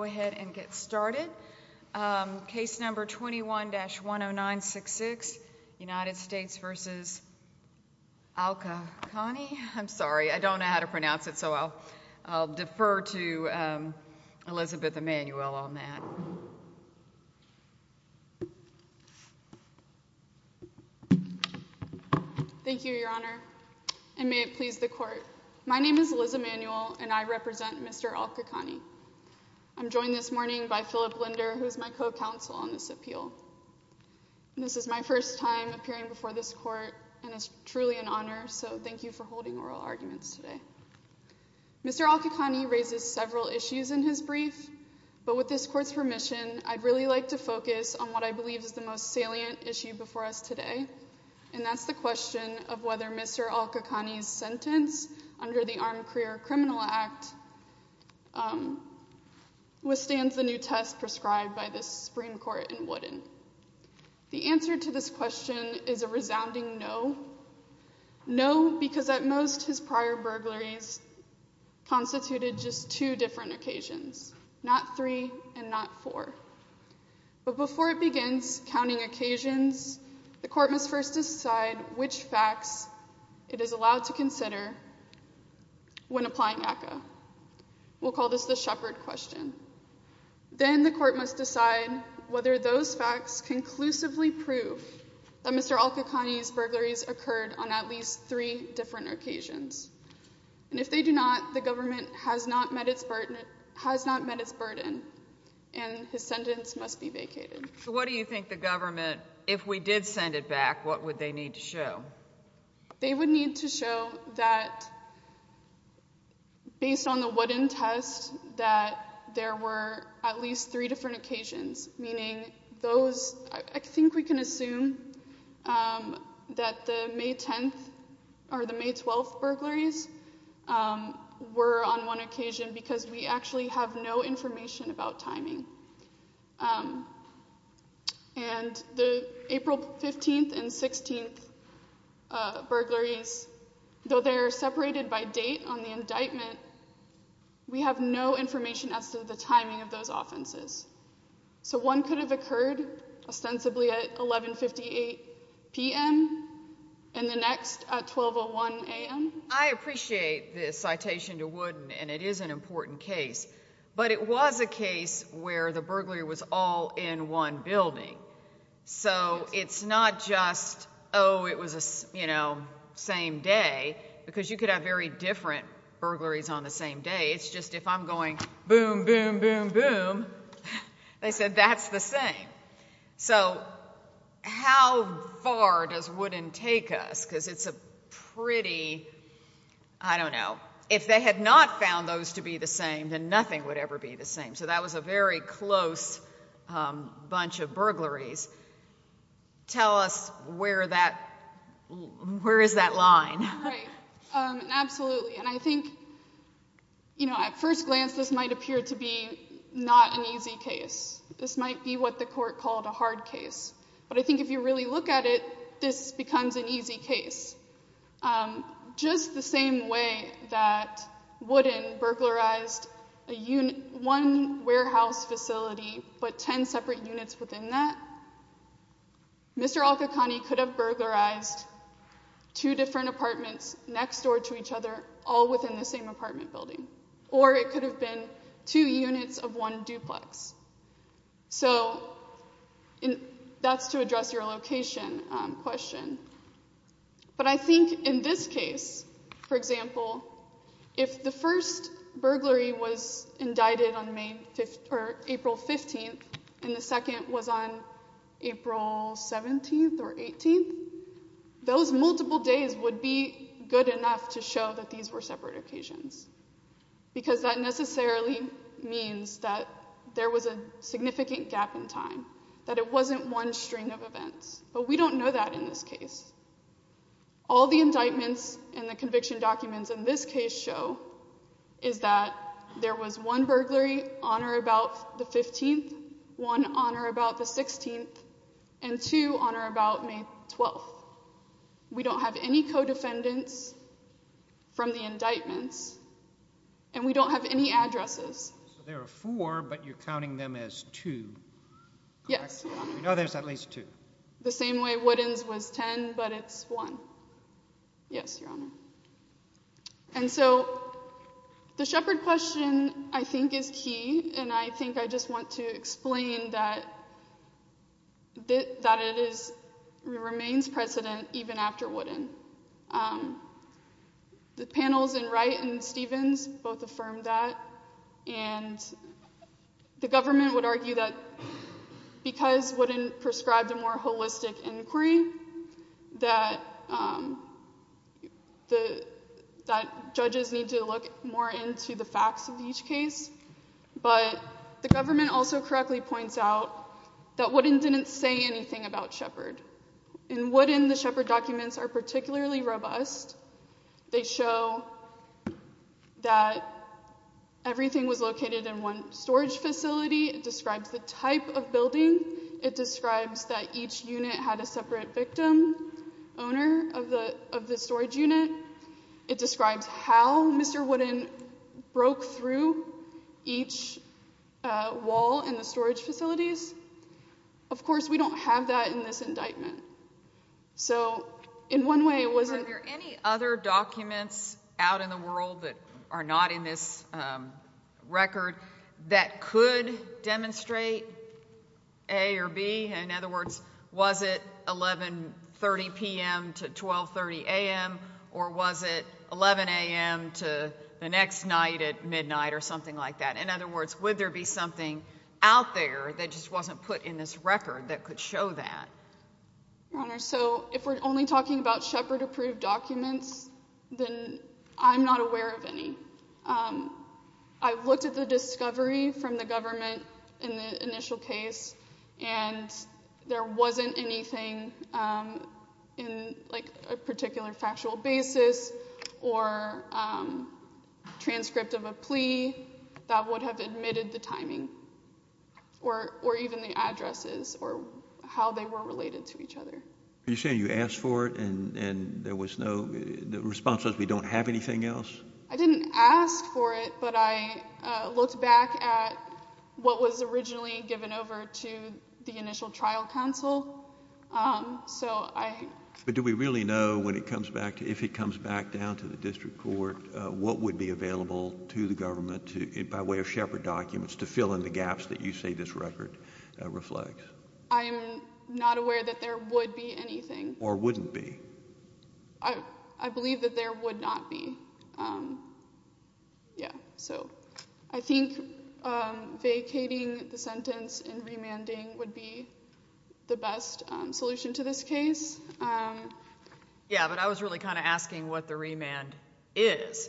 Go ahead and get started. Case number 21-10966, United States v. Alkheqani. I'm sorry, I don't know how to pronounce it, so I'll defer to Elizabeth Emanuel on that. Thank you, Your Honor, and may it please the Court. My name is Liz Emanuel, and I represent Mr. Alkheqani. I'm joined this morning by Philip Linder, who is my co-counsel on this appeal. This is my first time appearing before this Court, and it's truly an honor, so thank you for holding oral arguments today. Mr. Alkheqani raises several issues in his brief, but with this Court's permission, I'd really like to focus on what I believe is the most salient issue before us today, and that's the question of whether Mr. Alkheqani's sentence under the Armed Career Criminal Act withstands the new test prescribed by the Supreme Court in Wooden. The answer to this question is a resounding no. No, because at most, his prior burglaries constituted just two different occasions, not three and not four. But before it begins counting occasions, the Court must first decide which facts it is allowed to share when applying ACCA. We'll call this the shepherd question. Then the Court must decide whether those facts conclusively prove that Mr. Alkheqani's burglaries occurred on at least three different occasions. And if they do not, the government has not met its burden and his sentence must be vacated. So what do you think the government, if we did that, based on the Wooden test, that there were at least three different occasions, meaning those, I think we can assume that the May 10th or the May 12th burglaries were on one occasion because we actually have no information about timing. And the April 15th and 16th burglaries, though they are separated by date on the indictment, we have no information as to the timing of those offenses. So one could have occurred ostensibly at 1158 p.m. and the next at 1201 a.m.? I appreciate this citation to Wooden, and it is an important case. But it was a case where the burglar was all in one building. So it's not just, oh, it was a, you know, same day, because you could have very different burglaries on the same day. It's just if I'm going boom, boom, boom, boom, they said that's the same. So how far does Wooden take us? Because it's a pretty, I don't know, if they had not found those to be the same, then nothing would ever be the same. So that was a very close bunch of burglaries. Tell us where that, where is that line? Right. Absolutely. And I think, you know, at first glance this might appear to be not an easy case. This might be what the court called a hard case. But I think if you really look at it, this becomes an easy case. Just the same way that Wooden burglarized a unit, one warehouse facility, but ten separate units within that, Mr. Alqaqani could have burglarized two different apartments next door to each other, all within the same apartment building. Or it could have been two units of one duplex. So that's to address your location question. But I think in this case, for example, if the first burglary was indicted on April 15th and the second was on April 17th or 18th, those multiple days would be good enough to show that these were separate occasions. Because that necessarily means that there was a significant gap in time. That it wasn't one string of events. But we don't know that in this case. All the indictments and the conviction documents in this case show is that there was one burglary on or about the 15th, one on or about the 16th, and two on or about May 12th. We don't have any co-defendants from the indictments, and we don't have any addresses. So there are four, but you're counting them as two. Yes, Your Honor. You know there's at least two. The same way Woodin's was ten, but it's one. Yes, Your Honor. And so the Shepard question, I think, is key, and I think I just want to explain that it remains precedent even after Woodin. The panels in Wright and Stevens both affirmed that, and the government would argue that because Woodin prescribed a more holistic inquiry, that judges need to look more into the facts of each case. But the government also correctly points out that Woodin didn't say anything about Shepard. In Woodin, the Shepard documents are particularly robust. They show that everything was located in one storage facility. It describes the type of building. It describes that each unit had a separate victim, owner of the storage unit. It describes how Mr. Woodin broke through each wall in the storage facilities. Of course, we don't have that in this indictment. So, in one way, it wasn't... Are there any other documents out in the world that are not in this record that could demonstrate A or B? In other words, was it 11.30 p.m. to 12.30 a.m., or was it 11 a.m. to the next night at midnight or something like that? In other words, would there be something out there that just wasn't put in this record that could show that? Your Honor, so if we're only talking about Shepard-approved documents, then I'm not aware of any. I've looked at the discovery from the government in the initial case, and there wasn't anything in a particular factual basis or transcript of a plea that would have admitted the timing, or even the addresses, or how they were related to each other. Are you saying you asked for it and there was no... The response was, we don't have anything else? I didn't ask for it, but I looked back at what was originally given over to the initial trial counsel, so I... Do we really know, if it comes back down to the district court, what would be available to the government by way of Shepard documents to fill in the gaps that you say this record reflects? I am not aware that there would be anything. Or wouldn't be. I believe that there would not be. Yeah, so I think vacating the sentence and remanding would be the best solution to this case. Yeah, but I was really kind of asking what the remand is,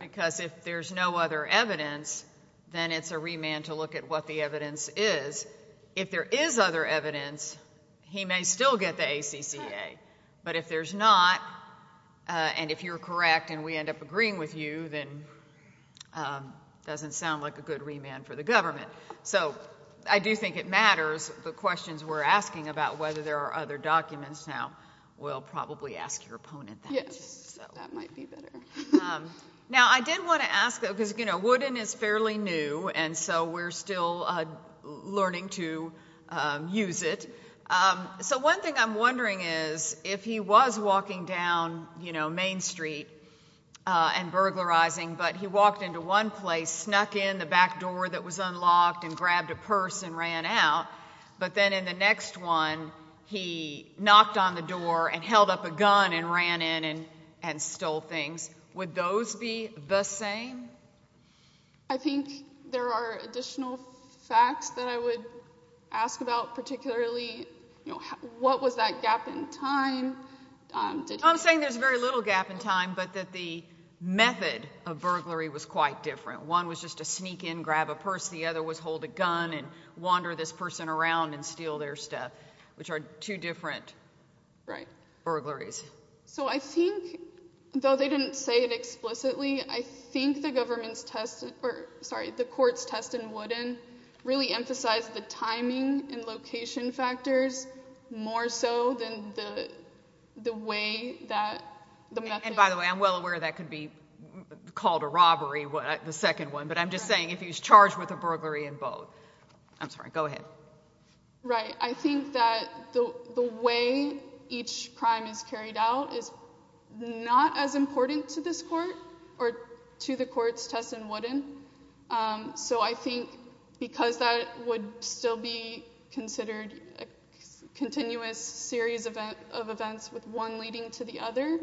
because if there's no other evidence, then it's a remand to look at what the evidence is. If there is other evidence, he may still get the ACCA, but if there's not, and if you're correct and we end up agreeing with you, then it doesn't sound like a good remand for the government. So, I do think it matters, the questions we're asking about whether there are other documents now, we'll probably ask your opponent that. Yes, that might be better. Now I did want to ask, because Wooden is fairly new, and so we're still learning to use it. So one thing I'm wondering is, if he was walking down Main Street and burglarizing, but he ran out, but then in the next one, he knocked on the door and held up a gun and ran in and stole things, would those be the same? I think there are additional facts that I would ask about, particularly, what was that gap in time? I'm saying there's very little gap in time, but that the method of burglary was quite different. One was just to sneak in, grab a purse, the other was hold a gun and wander this person around and steal their stuff, which are two different burglaries. So I think, though they didn't say it explicitly, I think the government's test, or sorry, the court's test in Wooden really emphasized the timing and location factors more so than the way that the method... And by the way, I'm well aware that could be called a robbery, the second one, but I'm just saying if he was charged with a burglary in both. I'm sorry, go ahead. Right. I think that the way each crime is carried out is not as important to this court or to the court's test in Wooden. So I think because that would still be considered a continuous series of events with one leading to the other,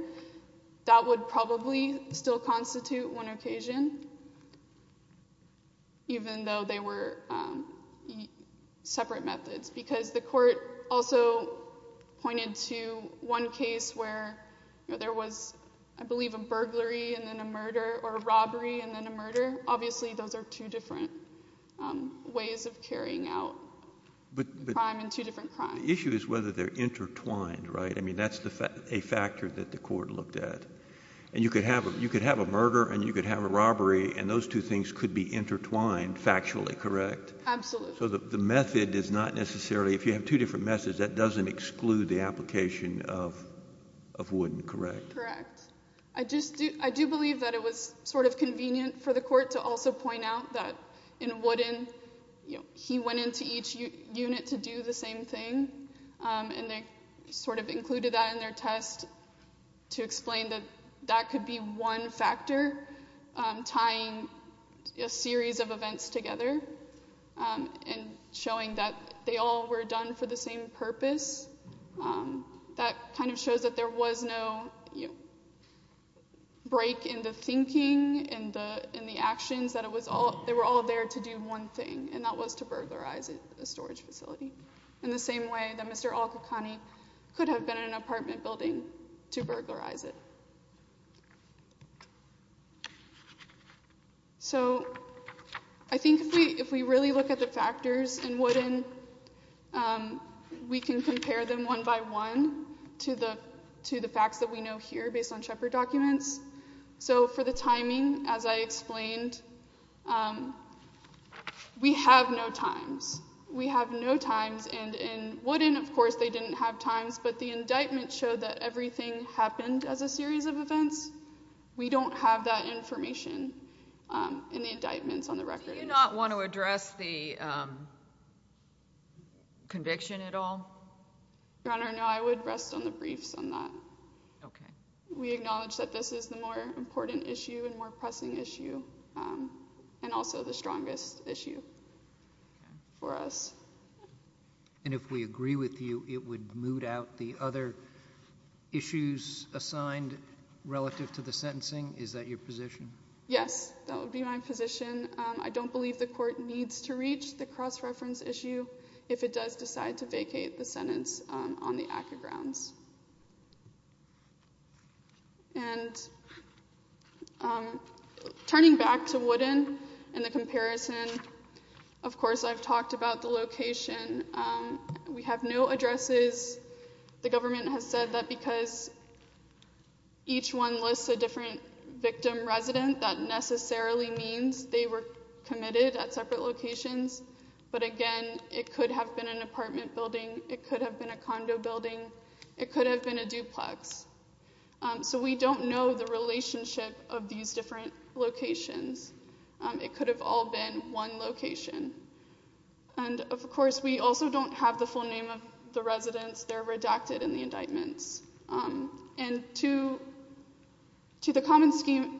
that would probably still constitute one occasion. Even though they were separate methods. Because the court also pointed to one case where there was, I believe, a burglary and then a murder, or a robbery and then a murder. Obviously those are two different ways of carrying out crime and two different crimes. The issue is whether they're intertwined, right? I mean, that's a factor that the court looked at. And you could have a murder and you could have a robbery, and those two things could be intertwined factually, correct? Absolutely. So the method is not necessarily... If you have two different methods, that doesn't exclude the application of Wooden, correct? Correct. I do believe that it was sort of convenient for the court to also point out that in Wooden, he went into each unit to do the same thing. And they sort of included that in their test to explain that that could be one factor tying a series of events together and showing that they all were done for the same purpose. That kind of shows that there was no break in the thinking and the actions, that they were all there to do one thing, and that was to burglarize a storage facility. In the same way that Mr. Alkakani could have been in an apartment building to burglarize it. So I think if we really look at the factors in Wooden, we can compare them one by one to the facts that we know here based on Shepard documents. So for the timing, as I explained, we have no times. We have no times, and in Wooden, of course, they didn't have times, but the indictment showed that everything happened as a series of events. We don't have that information in the indictments on the record. Do you not want to address the conviction at all? Your Honor, no, I would rest on the briefs on that. We acknowledge that this is the more and also the strongest issue for us. And if we agree with you, it would moot out the other issues assigned relative to the sentencing? Is that your position? Yes, that would be my position. I don't believe the court needs to reach the cross-reference issue if it does decide to vacate the sentence on the Acker grounds. And turning back to Wooden and the comparison, of course, I've talked about the location. We have no addresses. The government has said that because each one lists a different victim resident, that necessarily means they were committed at separate locations. But again, it could have been an apartment building. It could have been a condo building. It could have been a duplex. So we don't know the relationship of these different locations. It could have all been one location. And of course, we also don't have the full name of the residents. They're redacted in the indictments. And to the common scheme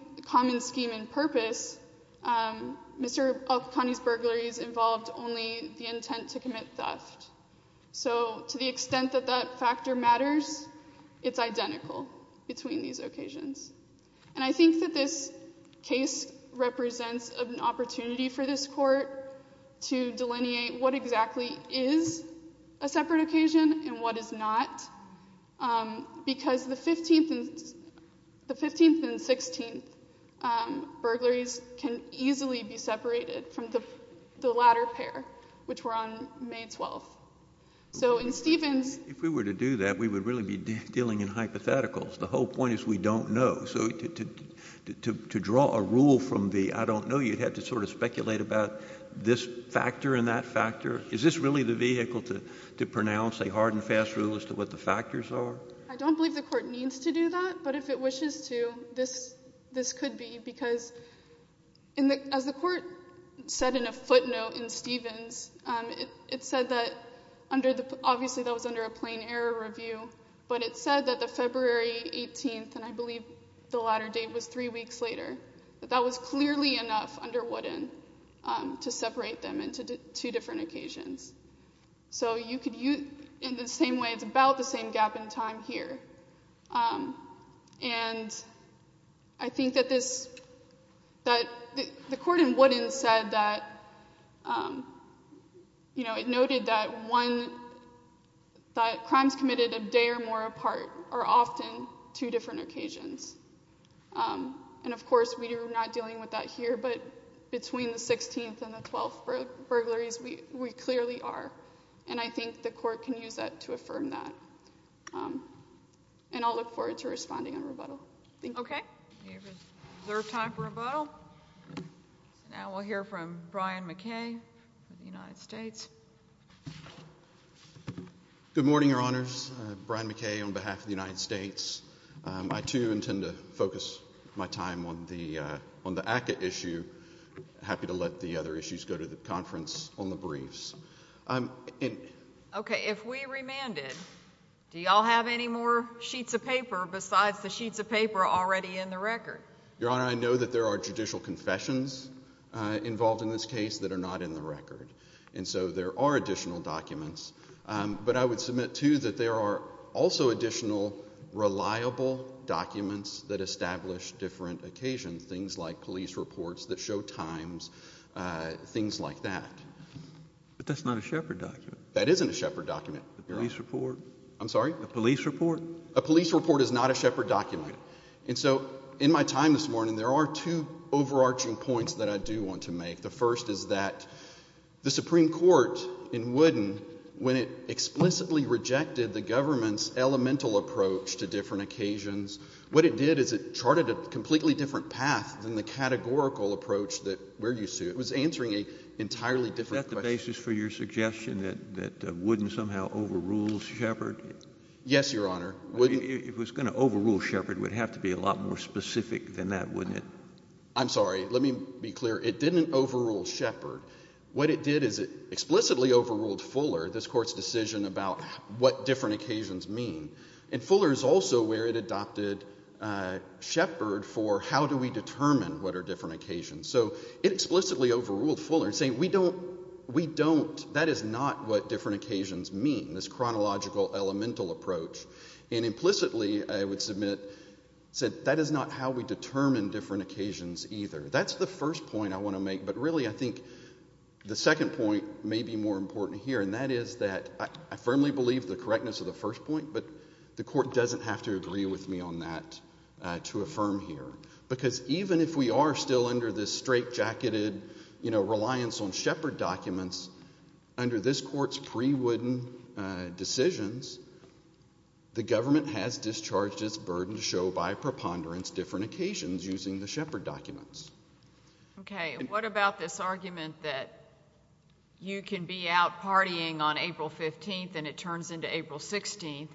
and purpose, Mr. Alkakani's burglaries involved only the intent to commit theft. So to the extent that that factor matters, it's identical between these occasions. And I think that this case represents an opportunity for this court to delineate what exactly is a separate occasion and what is not, because the 15th and 16th burglaries can easily be identifiable. If we were to do that, we would really be dealing in hypotheticals. The whole point is we don't know. So to draw a rule from the I don't know, you'd have to sort of speculate about this factor and that factor. Is this really the vehicle to pronounce a hard and fast rule as to what the factors are? I don't believe the court needs to do that. But if it wishes to, this could be, because as the court said in a footnote in Stevens, it said that, obviously that was under a plain error review, but it said that the February 18th, and I believe the latter date was three weeks later, that that was clearly enough under Wooden to separate them into two different occasions. So you could use, in the same way, it's about the same gap in time here. And I think that the court in Wooden said that, you know, it noted that one, that crimes committed a day or more apart are often two different occasions. And of course, we are not dealing with that here, but between the 16th and the 12th burglaries, we clearly are. And I think the court can use that to affirm that. And I'll look forward to responding on rebuttal. Thank you. Okay. We have reserved time for rebuttal. Now we'll hear from Brian McKay of the United States. Good morning, Your Honors. Brian McKay on behalf of the United States. I, too, intend to focus my time on the ACCA issue. Happy to let the other issues go to the conference on the briefs. Okay. If we remanded, do you all have any more sheets of paper besides the sheets of paper already in the record? Your Honor, I know that there are judicial confessions involved in this case that are not in the record. And so there are additional documents. But I would submit, too, that there are also additional reliable documents that establish different occasions, things like But that's not a Shepard document. That isn't a Shepard document. A police report? I'm sorry? A police report? A police report is not a Shepard document. And so in my time this morning, there are two overarching points that I do want to make. The first is that the Supreme Court in Wooden, when it explicitly rejected the government's elemental approach to different occasions, what it did is it charted a completely different path than the categorical approach that we're Is that the basis for your suggestion that Wooden somehow overruled Shepard? Yes, Your Honor. If it was going to overrule Shepard, it would have to be a lot more specific than that, wouldn't it? I'm sorry. Let me be clear. It didn't overrule Shepard. What it did is it explicitly overruled Fuller, this Court's decision about what different occasions mean. And Fuller is also where it adopted Shepard for how do we determine what are different occasions. So it explicitly overruled Fuller, saying we don't, that is not what different occasions mean, this chronological elemental approach. And implicitly, I would submit, said that is not how we determine different occasions either. That's the first point I want to make, but really I think the second point may be more important here, and that is that I firmly believe the correctness of the first point, but the Court doesn't have to agree with me on that to affirm here. Because even if we are still under this straitjacketed, you know, reliance on Shepard documents, under this Court's pre-Wooden decisions, the government has discharged its burden to show by preponderance different occasions using the Shepard documents. Okay. What about this argument that you can be out partying on April 15th and it turns into April 16th,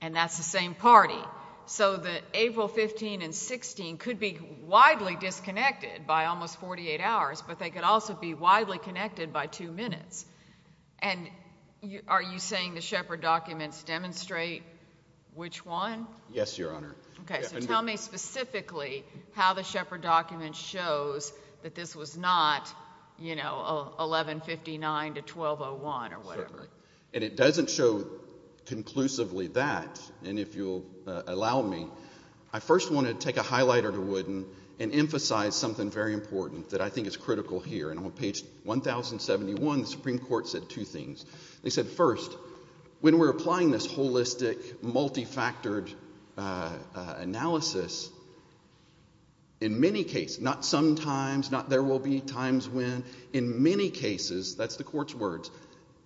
and that's the same party. So the April 15 and 16 could be widely disconnected by almost 48 hours, but they could also be widely connected by two minutes. And are you saying the Shepard documents demonstrate which one? Yes, Your Honor. Okay. So tell me specifically how the Shepard document shows that this was not, you know, 1159 to 1201 or whatever. And it doesn't show conclusively that, and if you'll allow me, I first want to take a highlighter to Wooden and emphasize something very important that I think is critical here. And on page 1071, the Supreme Court said two things. They said, first, when we're applying this holistic, multifactored analysis, in many cases, not sometimes, not there will be times when, in many cases, that's the court's words,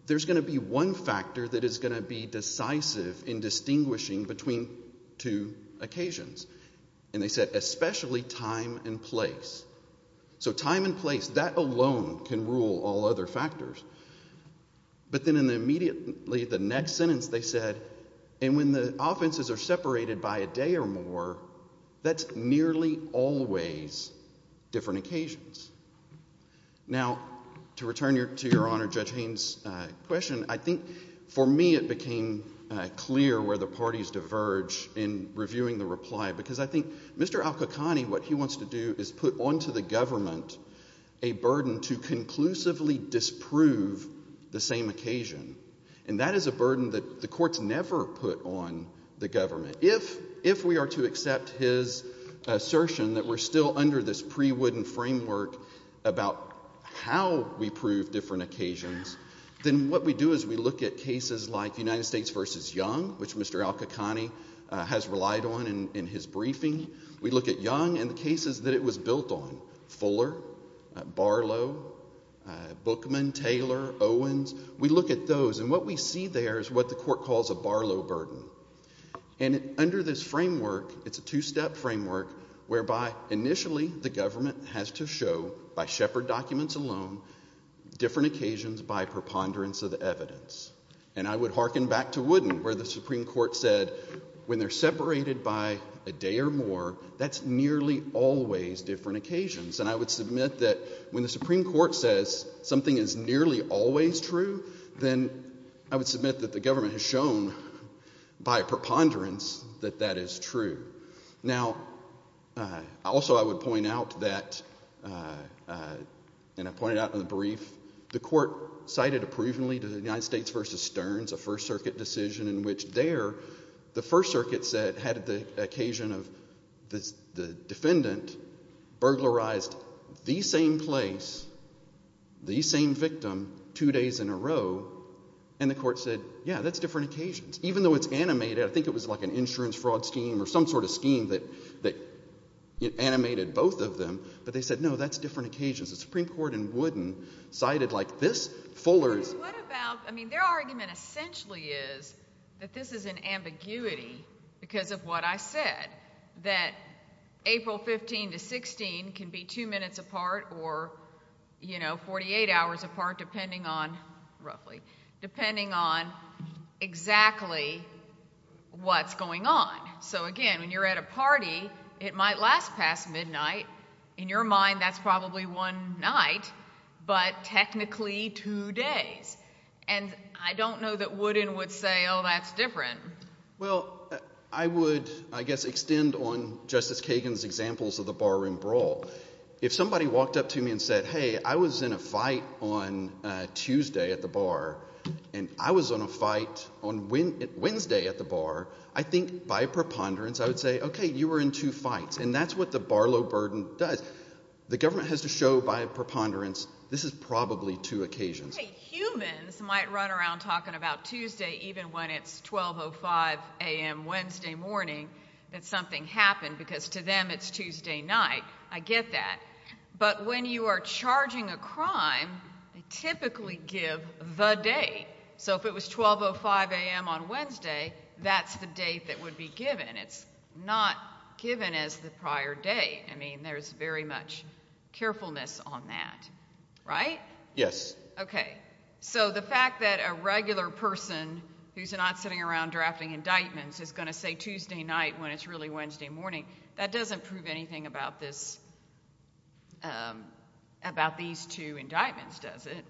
there's going to be one factor that is going to be decisive in distinguishing between two occasions. And they said especially time and place. So time and place, that alone can rule all other factors. But then immediately the next sentence they said, and when the offenses are separated by a day or more, that's only always different occasions. Now to return to Your Honor Judge Haynes' question, I think for me it became clear where the parties diverge in reviewing the reply. Because I think Mr. Al-Qaqani, what he wants to do is put onto the government a burden to conclusively disprove the same occasion. And that is a burden that the courts never put on the government. If we are to accept his assertion that we're still under this pre-wooden framework about how we prove different occasions, then what we do is we look at cases like United States v. Young, which Mr. Al-Qaqani has relied on in his briefing. We look at Young and the cases that it was built on, Fuller, Barlow, Bookman, Taylor, Owens. We look at those. And what we see there is what the court calls a Barlow burden. And under this framework, it's a two-step framework whereby initially the government has to show, by Shepard documents alone, different occasions by preponderance of the evidence. And I would hearken back to Wooden where the Supreme Court said when they're separated by a day or more, that's nearly always different occasions. And I would submit that when the Supreme Court says something is nearly always true, then I would submit that the government has shown by preponderance that that is true. Now, also I would point out that, and I pointed out in the brief, the court cited approvingly to the United States v. Stearns a First Circuit decision in which there, the First Circuit said, had the occasion of the defendant burglarized the same place, the same victim, two days in a row, and the court said, yeah, that's different occasions. Even though it's animated, I think it was like an insurance fraud scheme or some sort of scheme that animated both of them, but they said, no, that's different occasions. The Supreme Court in Wooden cited like this. Fuller's... But what about, I mean, their argument essentially is that this is an ambiguity because of what I said, that April 15 to 16 can be two minutes apart or, you know, 48 hours apart depending on, roughly, depending on exactly what's going on. So, again, when you're at a party, it might last past midnight. In your mind, that's probably one night, but technically two days. And I don't know that Wooden would say, oh, that's different. Well, I would, I guess, extend on Justice Kagan's examples of the barroom brawl. If somebody walked up to me and said, hey, I was in a fight on Tuesday at the bar, and I was in a fight on Wednesday at the bar, I think, by preponderance, I would say, okay, you were in two fights. And that's what the barlow burden does. The government has to show by preponderance, this is probably two occasions. Hey, humans might run around talking about Tuesday even when it's 12.05 a.m. Wednesday morning that something happened because to them it's Tuesday night. I get that. But when you are charging a crime, they typically give the date. So if it was 12.05 a.m. on Wednesday, that's the date that would be given. It's not given as the prior date. I mean, there's very much carefulness on that, right? Yes. Okay. So the fact that a regular person who's not sitting around drafting indictments is going to say Tuesday night when it's really Wednesday morning, that doesn't prove anything about this, about these two indictments, does it?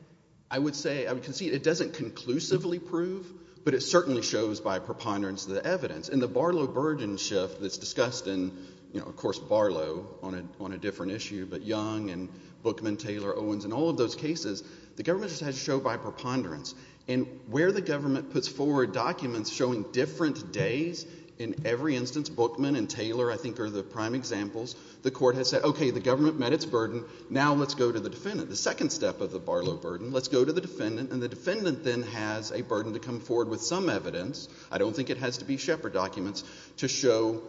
I would say, I would concede it doesn't conclusively prove, but it certainly shows by preponderance the evidence. In the barlow burden shift that's discussed in, you know, of course, Barlow on a different issue, but Young and Bookman, Taylor, Owens, and all of those cases, the government just has to show by preponderance. And where the government puts forward documents showing different days in every instance, Bookman and Taylor I think are the prime examples, the court has said, okay, the government met its burden, now let's go to the defendant. The second step of the Barlow burden, let's go to the defendant, and the defendant then has a burden to come forward with some evidence, I don't think it has to be Shepard documents, to show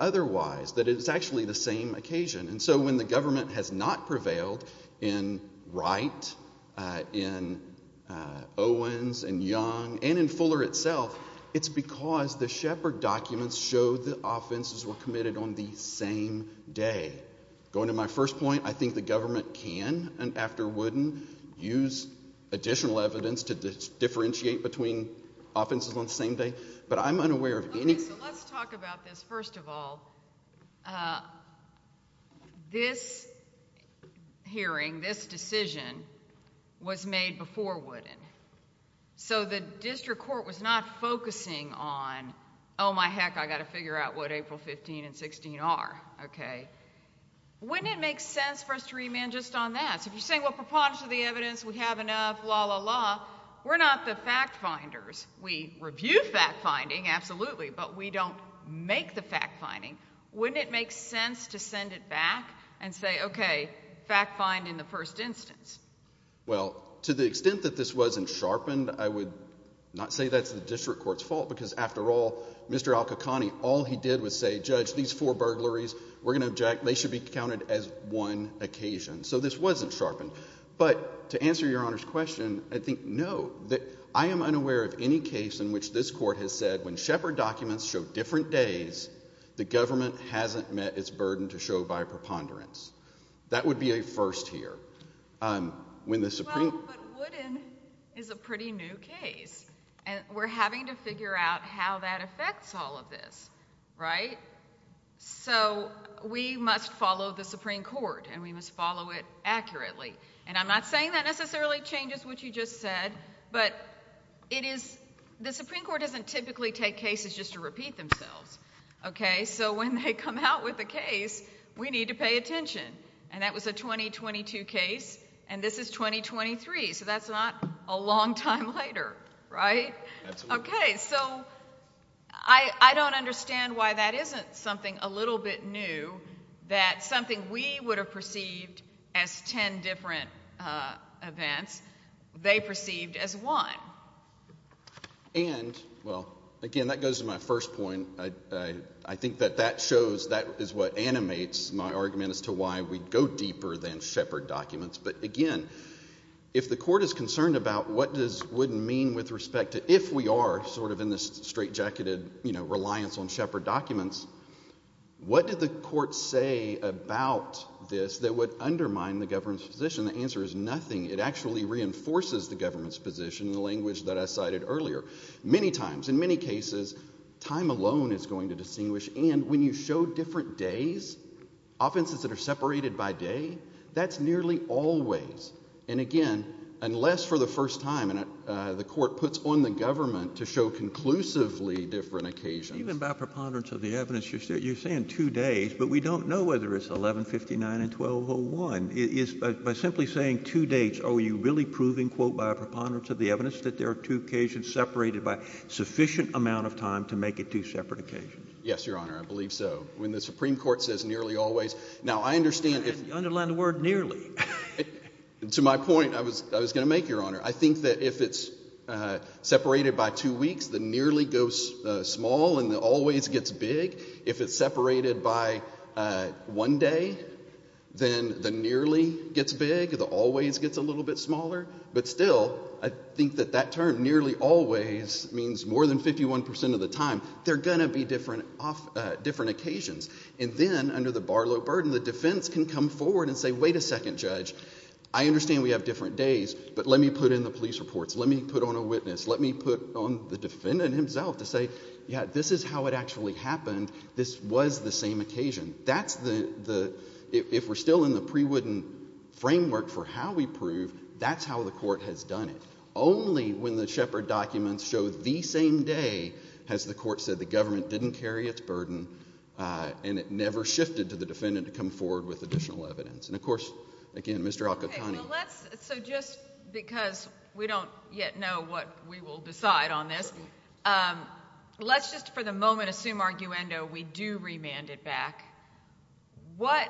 otherwise, that it's actually the same occasion. And so when the government has not prevailed in Wright, in Owens, in Young, and in Fuller itself, the government has not prevailed. It's because the Shepard documents show the offenses were committed on the same day. Going to my first point, I think the government can, after Wooden, use additional evidence to differentiate between offenses on the same day, but I'm unaware of any... Okay, so let's talk about this first of all. This hearing, this decision, was made before Wooden, so the district court was not focusing on, oh my heck, I've got to figure out what April 15 and 16 are, okay? Wouldn't it make sense for us to remand just on that? So if you're saying, well, preponderance of the evidence, we have enough, la la la, we're not the fact finders. We review fact finding, absolutely, but we don't make the fact finding. Wouldn't it make sense to send it back and say, okay, fact find in the first instance? Well, to the extent that this wasn't sharpened, I would not say that's the district court's fault because, after all, Mr. Al-Qaqani, all he did was say, judge, these four burglaries, we're going to object, they should be counted as one occasion. So this wasn't sharpened. But to answer your Honor's question, I think, no, I am unaware of any case in which this court has said, when Shepard documents show different days, the government hasn't met its burden to show by preponderance. That would be a first here. Well, but Wooden is a pretty new case, and we're having to figure out how that affects all of this, right? So we must follow the Supreme Court, and we must follow it accurately. And I'm not saying that necessarily changes what you just said, but it is, the Supreme Court doesn't typically take cases just to repeat themselves, okay? So when they come out with a case, we need to pay attention. And that was a 2022 case, and this is 2023, so that's not a long time later, right? Absolutely. Okay, so I don't understand why that isn't something a little bit new, that something we would have perceived as ten different events, they perceived as one. And, well, again, that goes to my first point. I think that that shows, that is what animates my argument as to why we go deeper than Shepard documents. But again, if the court is concerned about what does Wooden mean with respect to if we are sort of in this straitjacketed, you know, reliance on Shepard documents, what did the court say about this that would undermine the government's position? The answer is nothing. It actually reinforces the government's position in the language that I cited earlier. Many times, in many cases, time alone is going to distinguish, and when you show different days, offenses that are separated by day, that's nearly always, and again, unless for the first time, the court puts on the government to show conclusively different occasions. Even by preponderance of the evidence, you're saying two days, but we don't know whether it's 11-59 and 12-01. By simply saying two dates, are you really proving, quote, by preponderance of the evidence, that there are two occasions separated by sufficient amount of time to make it two separate occasions? Yes, Your Honor, I believe so. When the Supreme Court says nearly always, now I understand if— Underline the word nearly. To my point, I was going to make, Your Honor, I think that if it's separated by two weeks, the nearly goes small and the always gets big. If it's separated by one day, then the defense can come forward and say, wait a second, Judge, I understand we have different days, but let me put in the police reports, let me put on a witness, let me put on the defendant himself to say, yeah, this is how it actually happened, this was the same occasion. If we're still in the pre-wooden framework for how we prove, that's how the court has done it. Only when the Shepard documents show the same day has the court said the government didn't carry its burden and it never shifted to the defendant to come forward with additional evidence. And, of course, again, Mr. Alcantara— Okay, so let's—so just because we don't yet know what we will decide on this, let's just for the moment assume arguendo, we do remand it back. What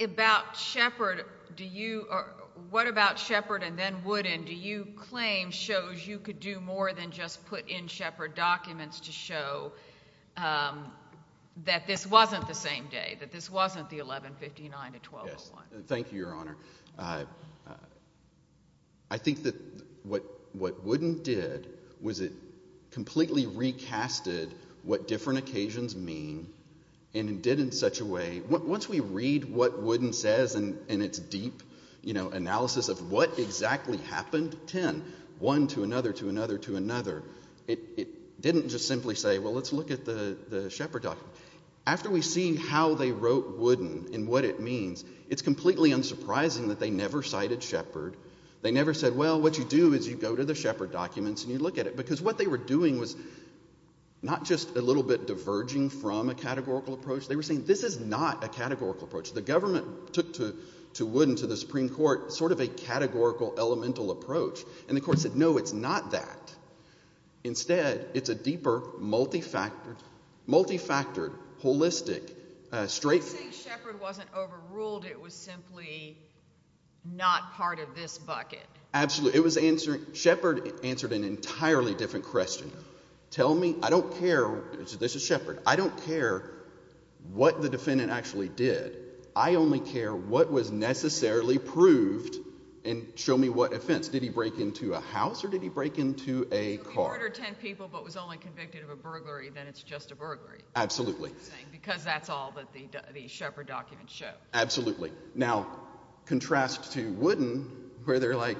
about Shepard do you—what about Shepard and then Wooden, do you claim shows you could do more than just put in Shepard documents to show that this wasn't the same day, that this wasn't the 1159 to 1201? Thank you, Your Honor. I think that what Wooden did was it completely recasted what different occasions mean and it did it in such a way—once we read what Wooden says in its deep analysis of what exactly happened—ten, one to another to another to another—it didn't just simply say, well, let's look at the Shepard document. After we see how they wrote Wooden and what it means, it's completely unsurprising that they never cited Shepard. They never said, well, what you do is you go to the Shepard documents and you look at it. Because what they were doing was not just a little bit diverging from a categorical approach, they were saying this is not a categorical approach. The government took to Wooden, to the Supreme Court, sort of a categorical, elemental approach. And the Court said, no, it's not that. Instead, it's a deeper, multi-factored, holistic, straight— You're saying Shepard wasn't overruled, it was simply not part of this bucket? Absolutely. It was answered—Shepard answered an entirely different question. Tell me—I don't care—this is Shepard—I don't care what the defendant actually did. I only care what was necessarily proved and show me what offense. Did he break into a house or did he break into a car? So he murdered 10 people but was only convicted of a burglary, then it's just a burglary. Absolutely. Because that's all that the Shepard documents show. Absolutely. Now, contrast to Wooden, where they're like,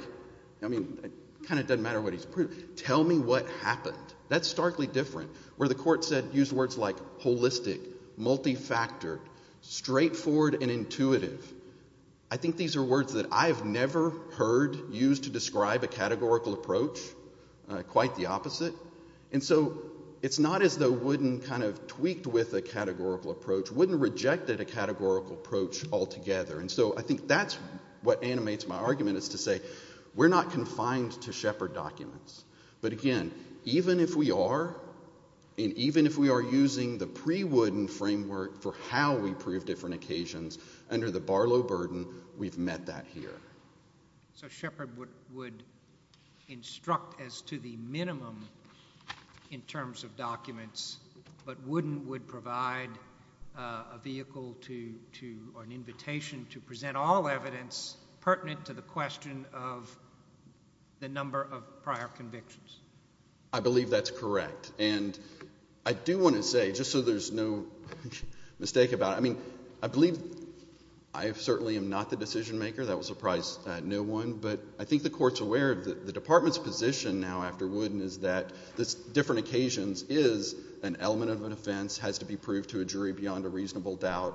I mean, it kind of doesn't matter what he's proved. Tell me what happened. That's starkly different. Where the Court used words like holistic, multi-factored, straightforward and intuitive, I think these are words that I've never heard used to describe a categorical approach, quite the opposite. And so it's not as though Wooden kind of tweaked with a categorical approach, Wooden rejected a categorical approach altogether. And so I think that's what animates my argument, is to say, we're not confined to Shepard documents. But again, even if we are, and even if we are using the pre-Wooden framework for how we prove different occasions under the Barlow burden, we've met that here. So Shepard would instruct as to the minimum in terms of documents, but Wooden would provide a vehicle to, or an invitation to present all evidence pertinent to the question of the number of prior convictions. I believe that's correct. And I do want to say, just so there's no mistake about it, I mean, I believe I certainly am not the decision maker. That would surprise no one. But I think the Court's aware of the Department's position now after Wooden is that this different occasions is an element of an offense, has to be proved to a jury beyond a reasonable doubt,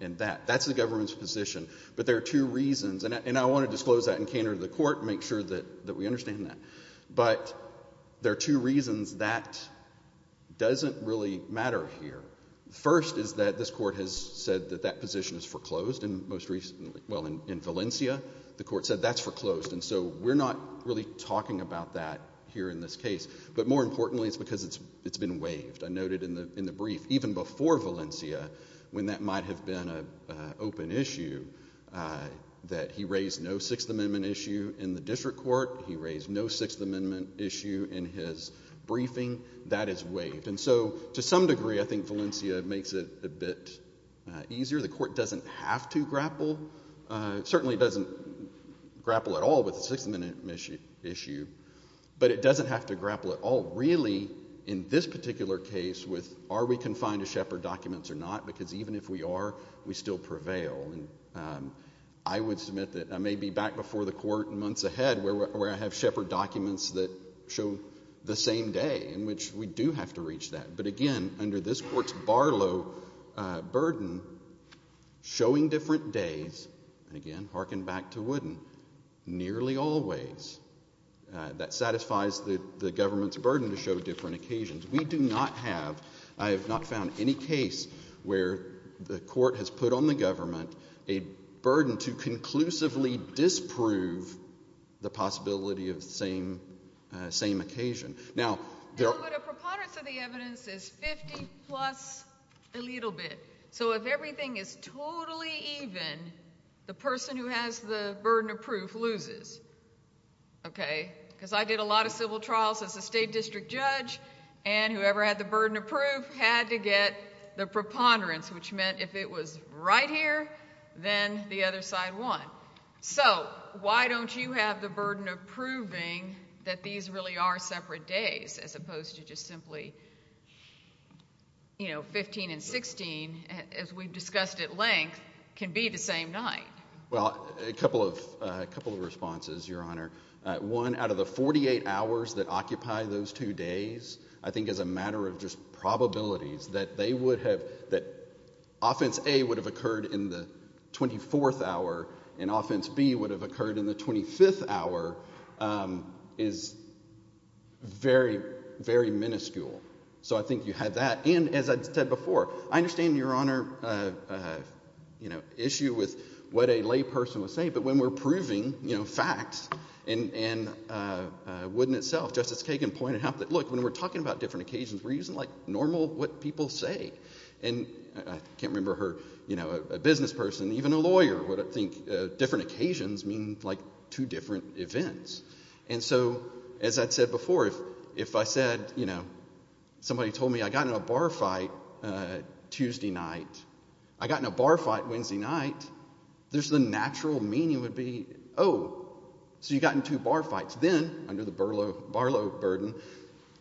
and that's the Government's position. But there are two reasons, and I want to disclose that in canter to the Court and make sure that we understand that. But there are two reasons that doesn't really matter here. First is that this Court has said that that position is foreclosed, and most recently, well, in Valencia, the Court said that's foreclosed. And so we're not really talking about that here in this case. But more importantly, it's because it's been waived. I noted in the brief, even before Valencia, when that might have been an open issue, that he raised no Sixth Amendment issue in the District Court. He raised no Sixth Amendment issue in his briefing. That is waived. And so to some degree, I think Valencia makes it a bit easier. The Court doesn't have to grapple. It certainly doesn't grapple at all with the Sixth Amendment issue. But it doesn't have to grapple at all really in this particular case with are we confined to Shepard documents or not, because even if we are, we still prevail. And I would submit that I may be back before the Court in months ahead where I have Shepard documents that show the same day, in which we do have to reach that. But again, under this Court's Barlow burden, showing different days, and trying to show different occasions, we do not have, I have not found any case where the Court has put on the government a burden to conclusively disprove the possibility of the same occasion. Now, there are... But a preponderance of the evidence is 50 plus a little bit. So if everything is totally even, the person who has the burden of proof loses. Okay? Because I did a lot of civil district judge, and whoever had the burden of proof had to get the preponderance, which meant if it was right here, then the other side won. So, why don't you have the burden of proving that these really are separate days, as opposed to just simply, you know, 15 and 16, as we've discussed at length, can be the same night? Well, a couple of responses, Your Honor. One, out of the 48 hours that occupy those two days, I think as a matter of just probabilities, that they would have, that Offense A would have occurred in the 24th hour, and Offense B would have occurred in the 25th hour, is very, very minuscule. So I think you have that. And, as I said before, I understand Your Honor, you know, issue with what a layperson would say, but when we're proving, you know, facts, and wouldn't itself, Justice Kagan pointed out that, look, when we're talking about different occasions, we're using, like, normal, what people say. And I can't remember her, you know, a business person, even a lawyer, would think different occasions mean, like, two different events. And so, as I'd said before, if I said, you know, somebody told me I got in a bar fight Tuesday night, I got in a bar fight Wednesday night, there's the problem. So you got in two bar fights. Then, under the Barlow burden,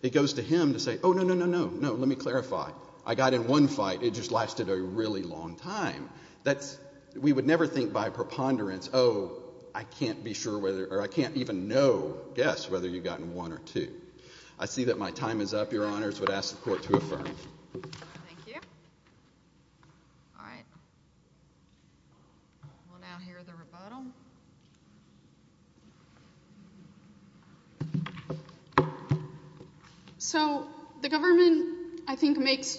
it goes to him to say, oh, no, no, no, no, no, let me clarify. I got in one fight, it just lasted a really long time. That's, we would never think by preponderance, oh, I can't be sure whether, or I can't even know, guess, whether you got in one or two. I see that my time is up, Your Rebuttal. So, the government, I think, makes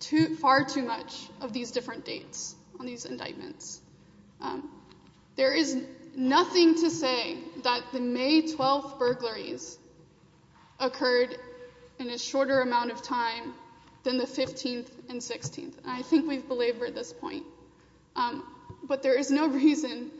too, far too much of these different dates on these indictments. There is nothing to say that the May 12th burglaries occurred in a shorter amount of time than the 15th and 16th. I think we've belabored this point. But there is no reason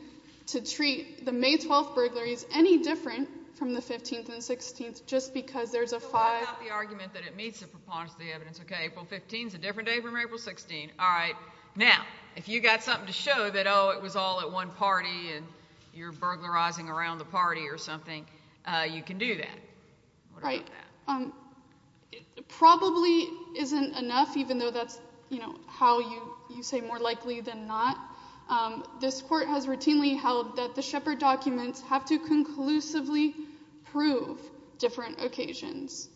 to treat the May 12th burglaries any different from the 15th and 16th, just because there's a five... So what about the argument that it meets the preponderance of the evidence? Okay, April 15th is a different day from April 16th. All right. Now, if you got something to show that, oh, it was all at one party and you're burglarizing around the party or something, you can do that. Right. Probably isn't enough, even though that's how you say more likely than not. This court has routinely held that the Shepard documents have to conclusively prove different occasions.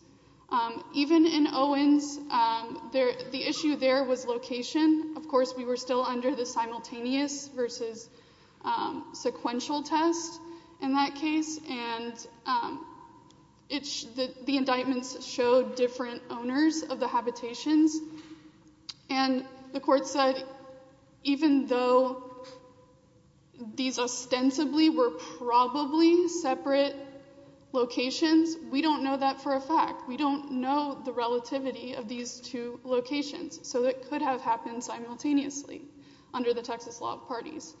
Even in Owens, the issue there was location. Of course, we were still under the simultaneous versus sequential test in that case, and the indictments showed different owners of the habitations. And the court said, even though these ostensibly were probably separate locations, we don't know that for a fact. We don't know the relativity of these two locations. So it could have happened simultaneously under the Texas law of parties.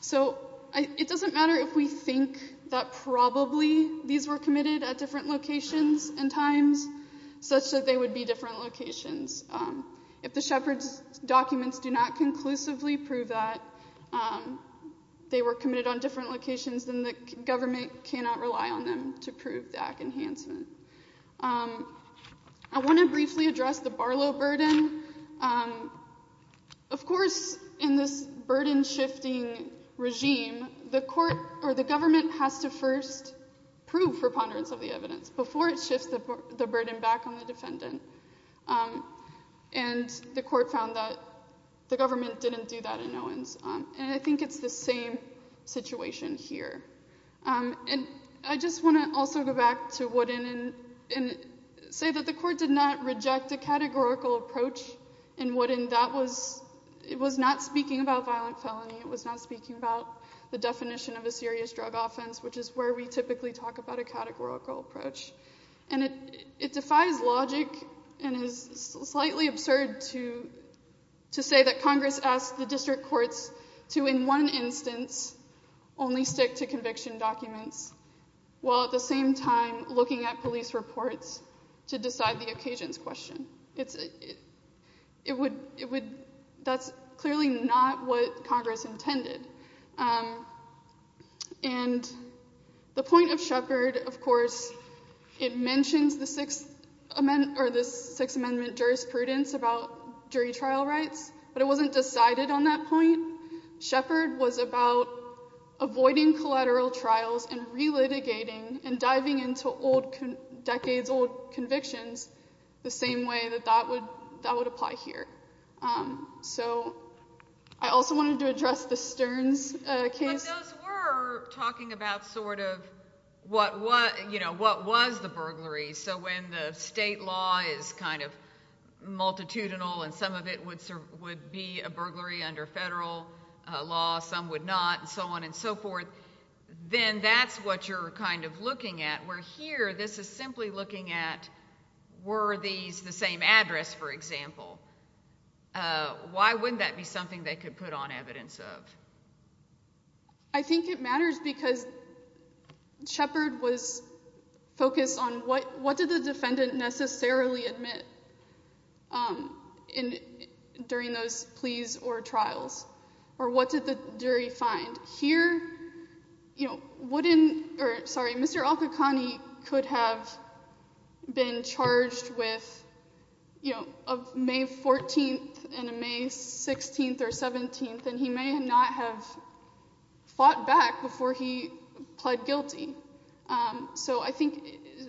So it doesn't matter if we think that probably these were committed at different locations and times, such that they would be different locations. If the Shepard documents do not conclusively prove that they were committed on different locations, then the government cannot rely on them to prove that enhancement. I want to briefly address the Barlow burden. Of course, in this burden-shifting regime, the court or the government has to first prove for ponderance of the evidence before it shifts the burden back on the defendant. And the court found that the government didn't do that in Owens. And I think it's the same situation here. And I just want to also go back to Woodin and say that the court did not reject a categorical approach in Woodin. It was not speaking about violent felony. It was not speaking about the definition of a serious drug offense, which is where we typically talk about a categorical approach. And it defies logic and is slightly absurd to say that Congress asked the district courts to, in one instance, only stick to police reports to decide the occasions question. That's clearly not what Congress intended. And the point of Shepard, of course, it mentions the Sixth Amendment jurisprudence about jury trial rights, but it wasn't decided on that point. Shepard was about avoiding collateral trials and re-litigating and diving into decades-old convictions the same way that that would apply here. So I also wanted to address the Stearns case. But those were talking about sort of what was the burglary. So when the state law is kind of multitudinal and some of it would be a burglary under federal law, some would not, and so on and so forth, then that's what you're kind of looking at. Where here, this is simply looking at were these the same address, for example. Why wouldn't that be something they could put on evidence of? I think it matters because Shepard was focused on what did the defendant necessarily admit during those pleas or trials? Or what did the jury find? Here, Mr. Al-Qaqqani could have been charged with a May 14th and a May 16th or 17th, and he may not have fought back before he pled guilty. So I think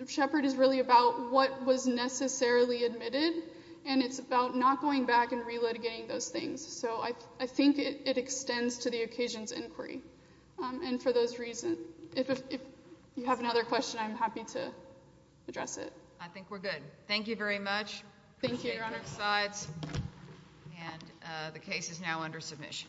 Shepard is really about what was necessarily admitted, and it's about not going back and re-litigating those things. So I think it extends to the occasions inquiry. And for those reasons, if you have another question, I'm happy to address it. I think we're good. Thank you very much. Thank you. Appreciate your honor's sides. And the case is now under submission.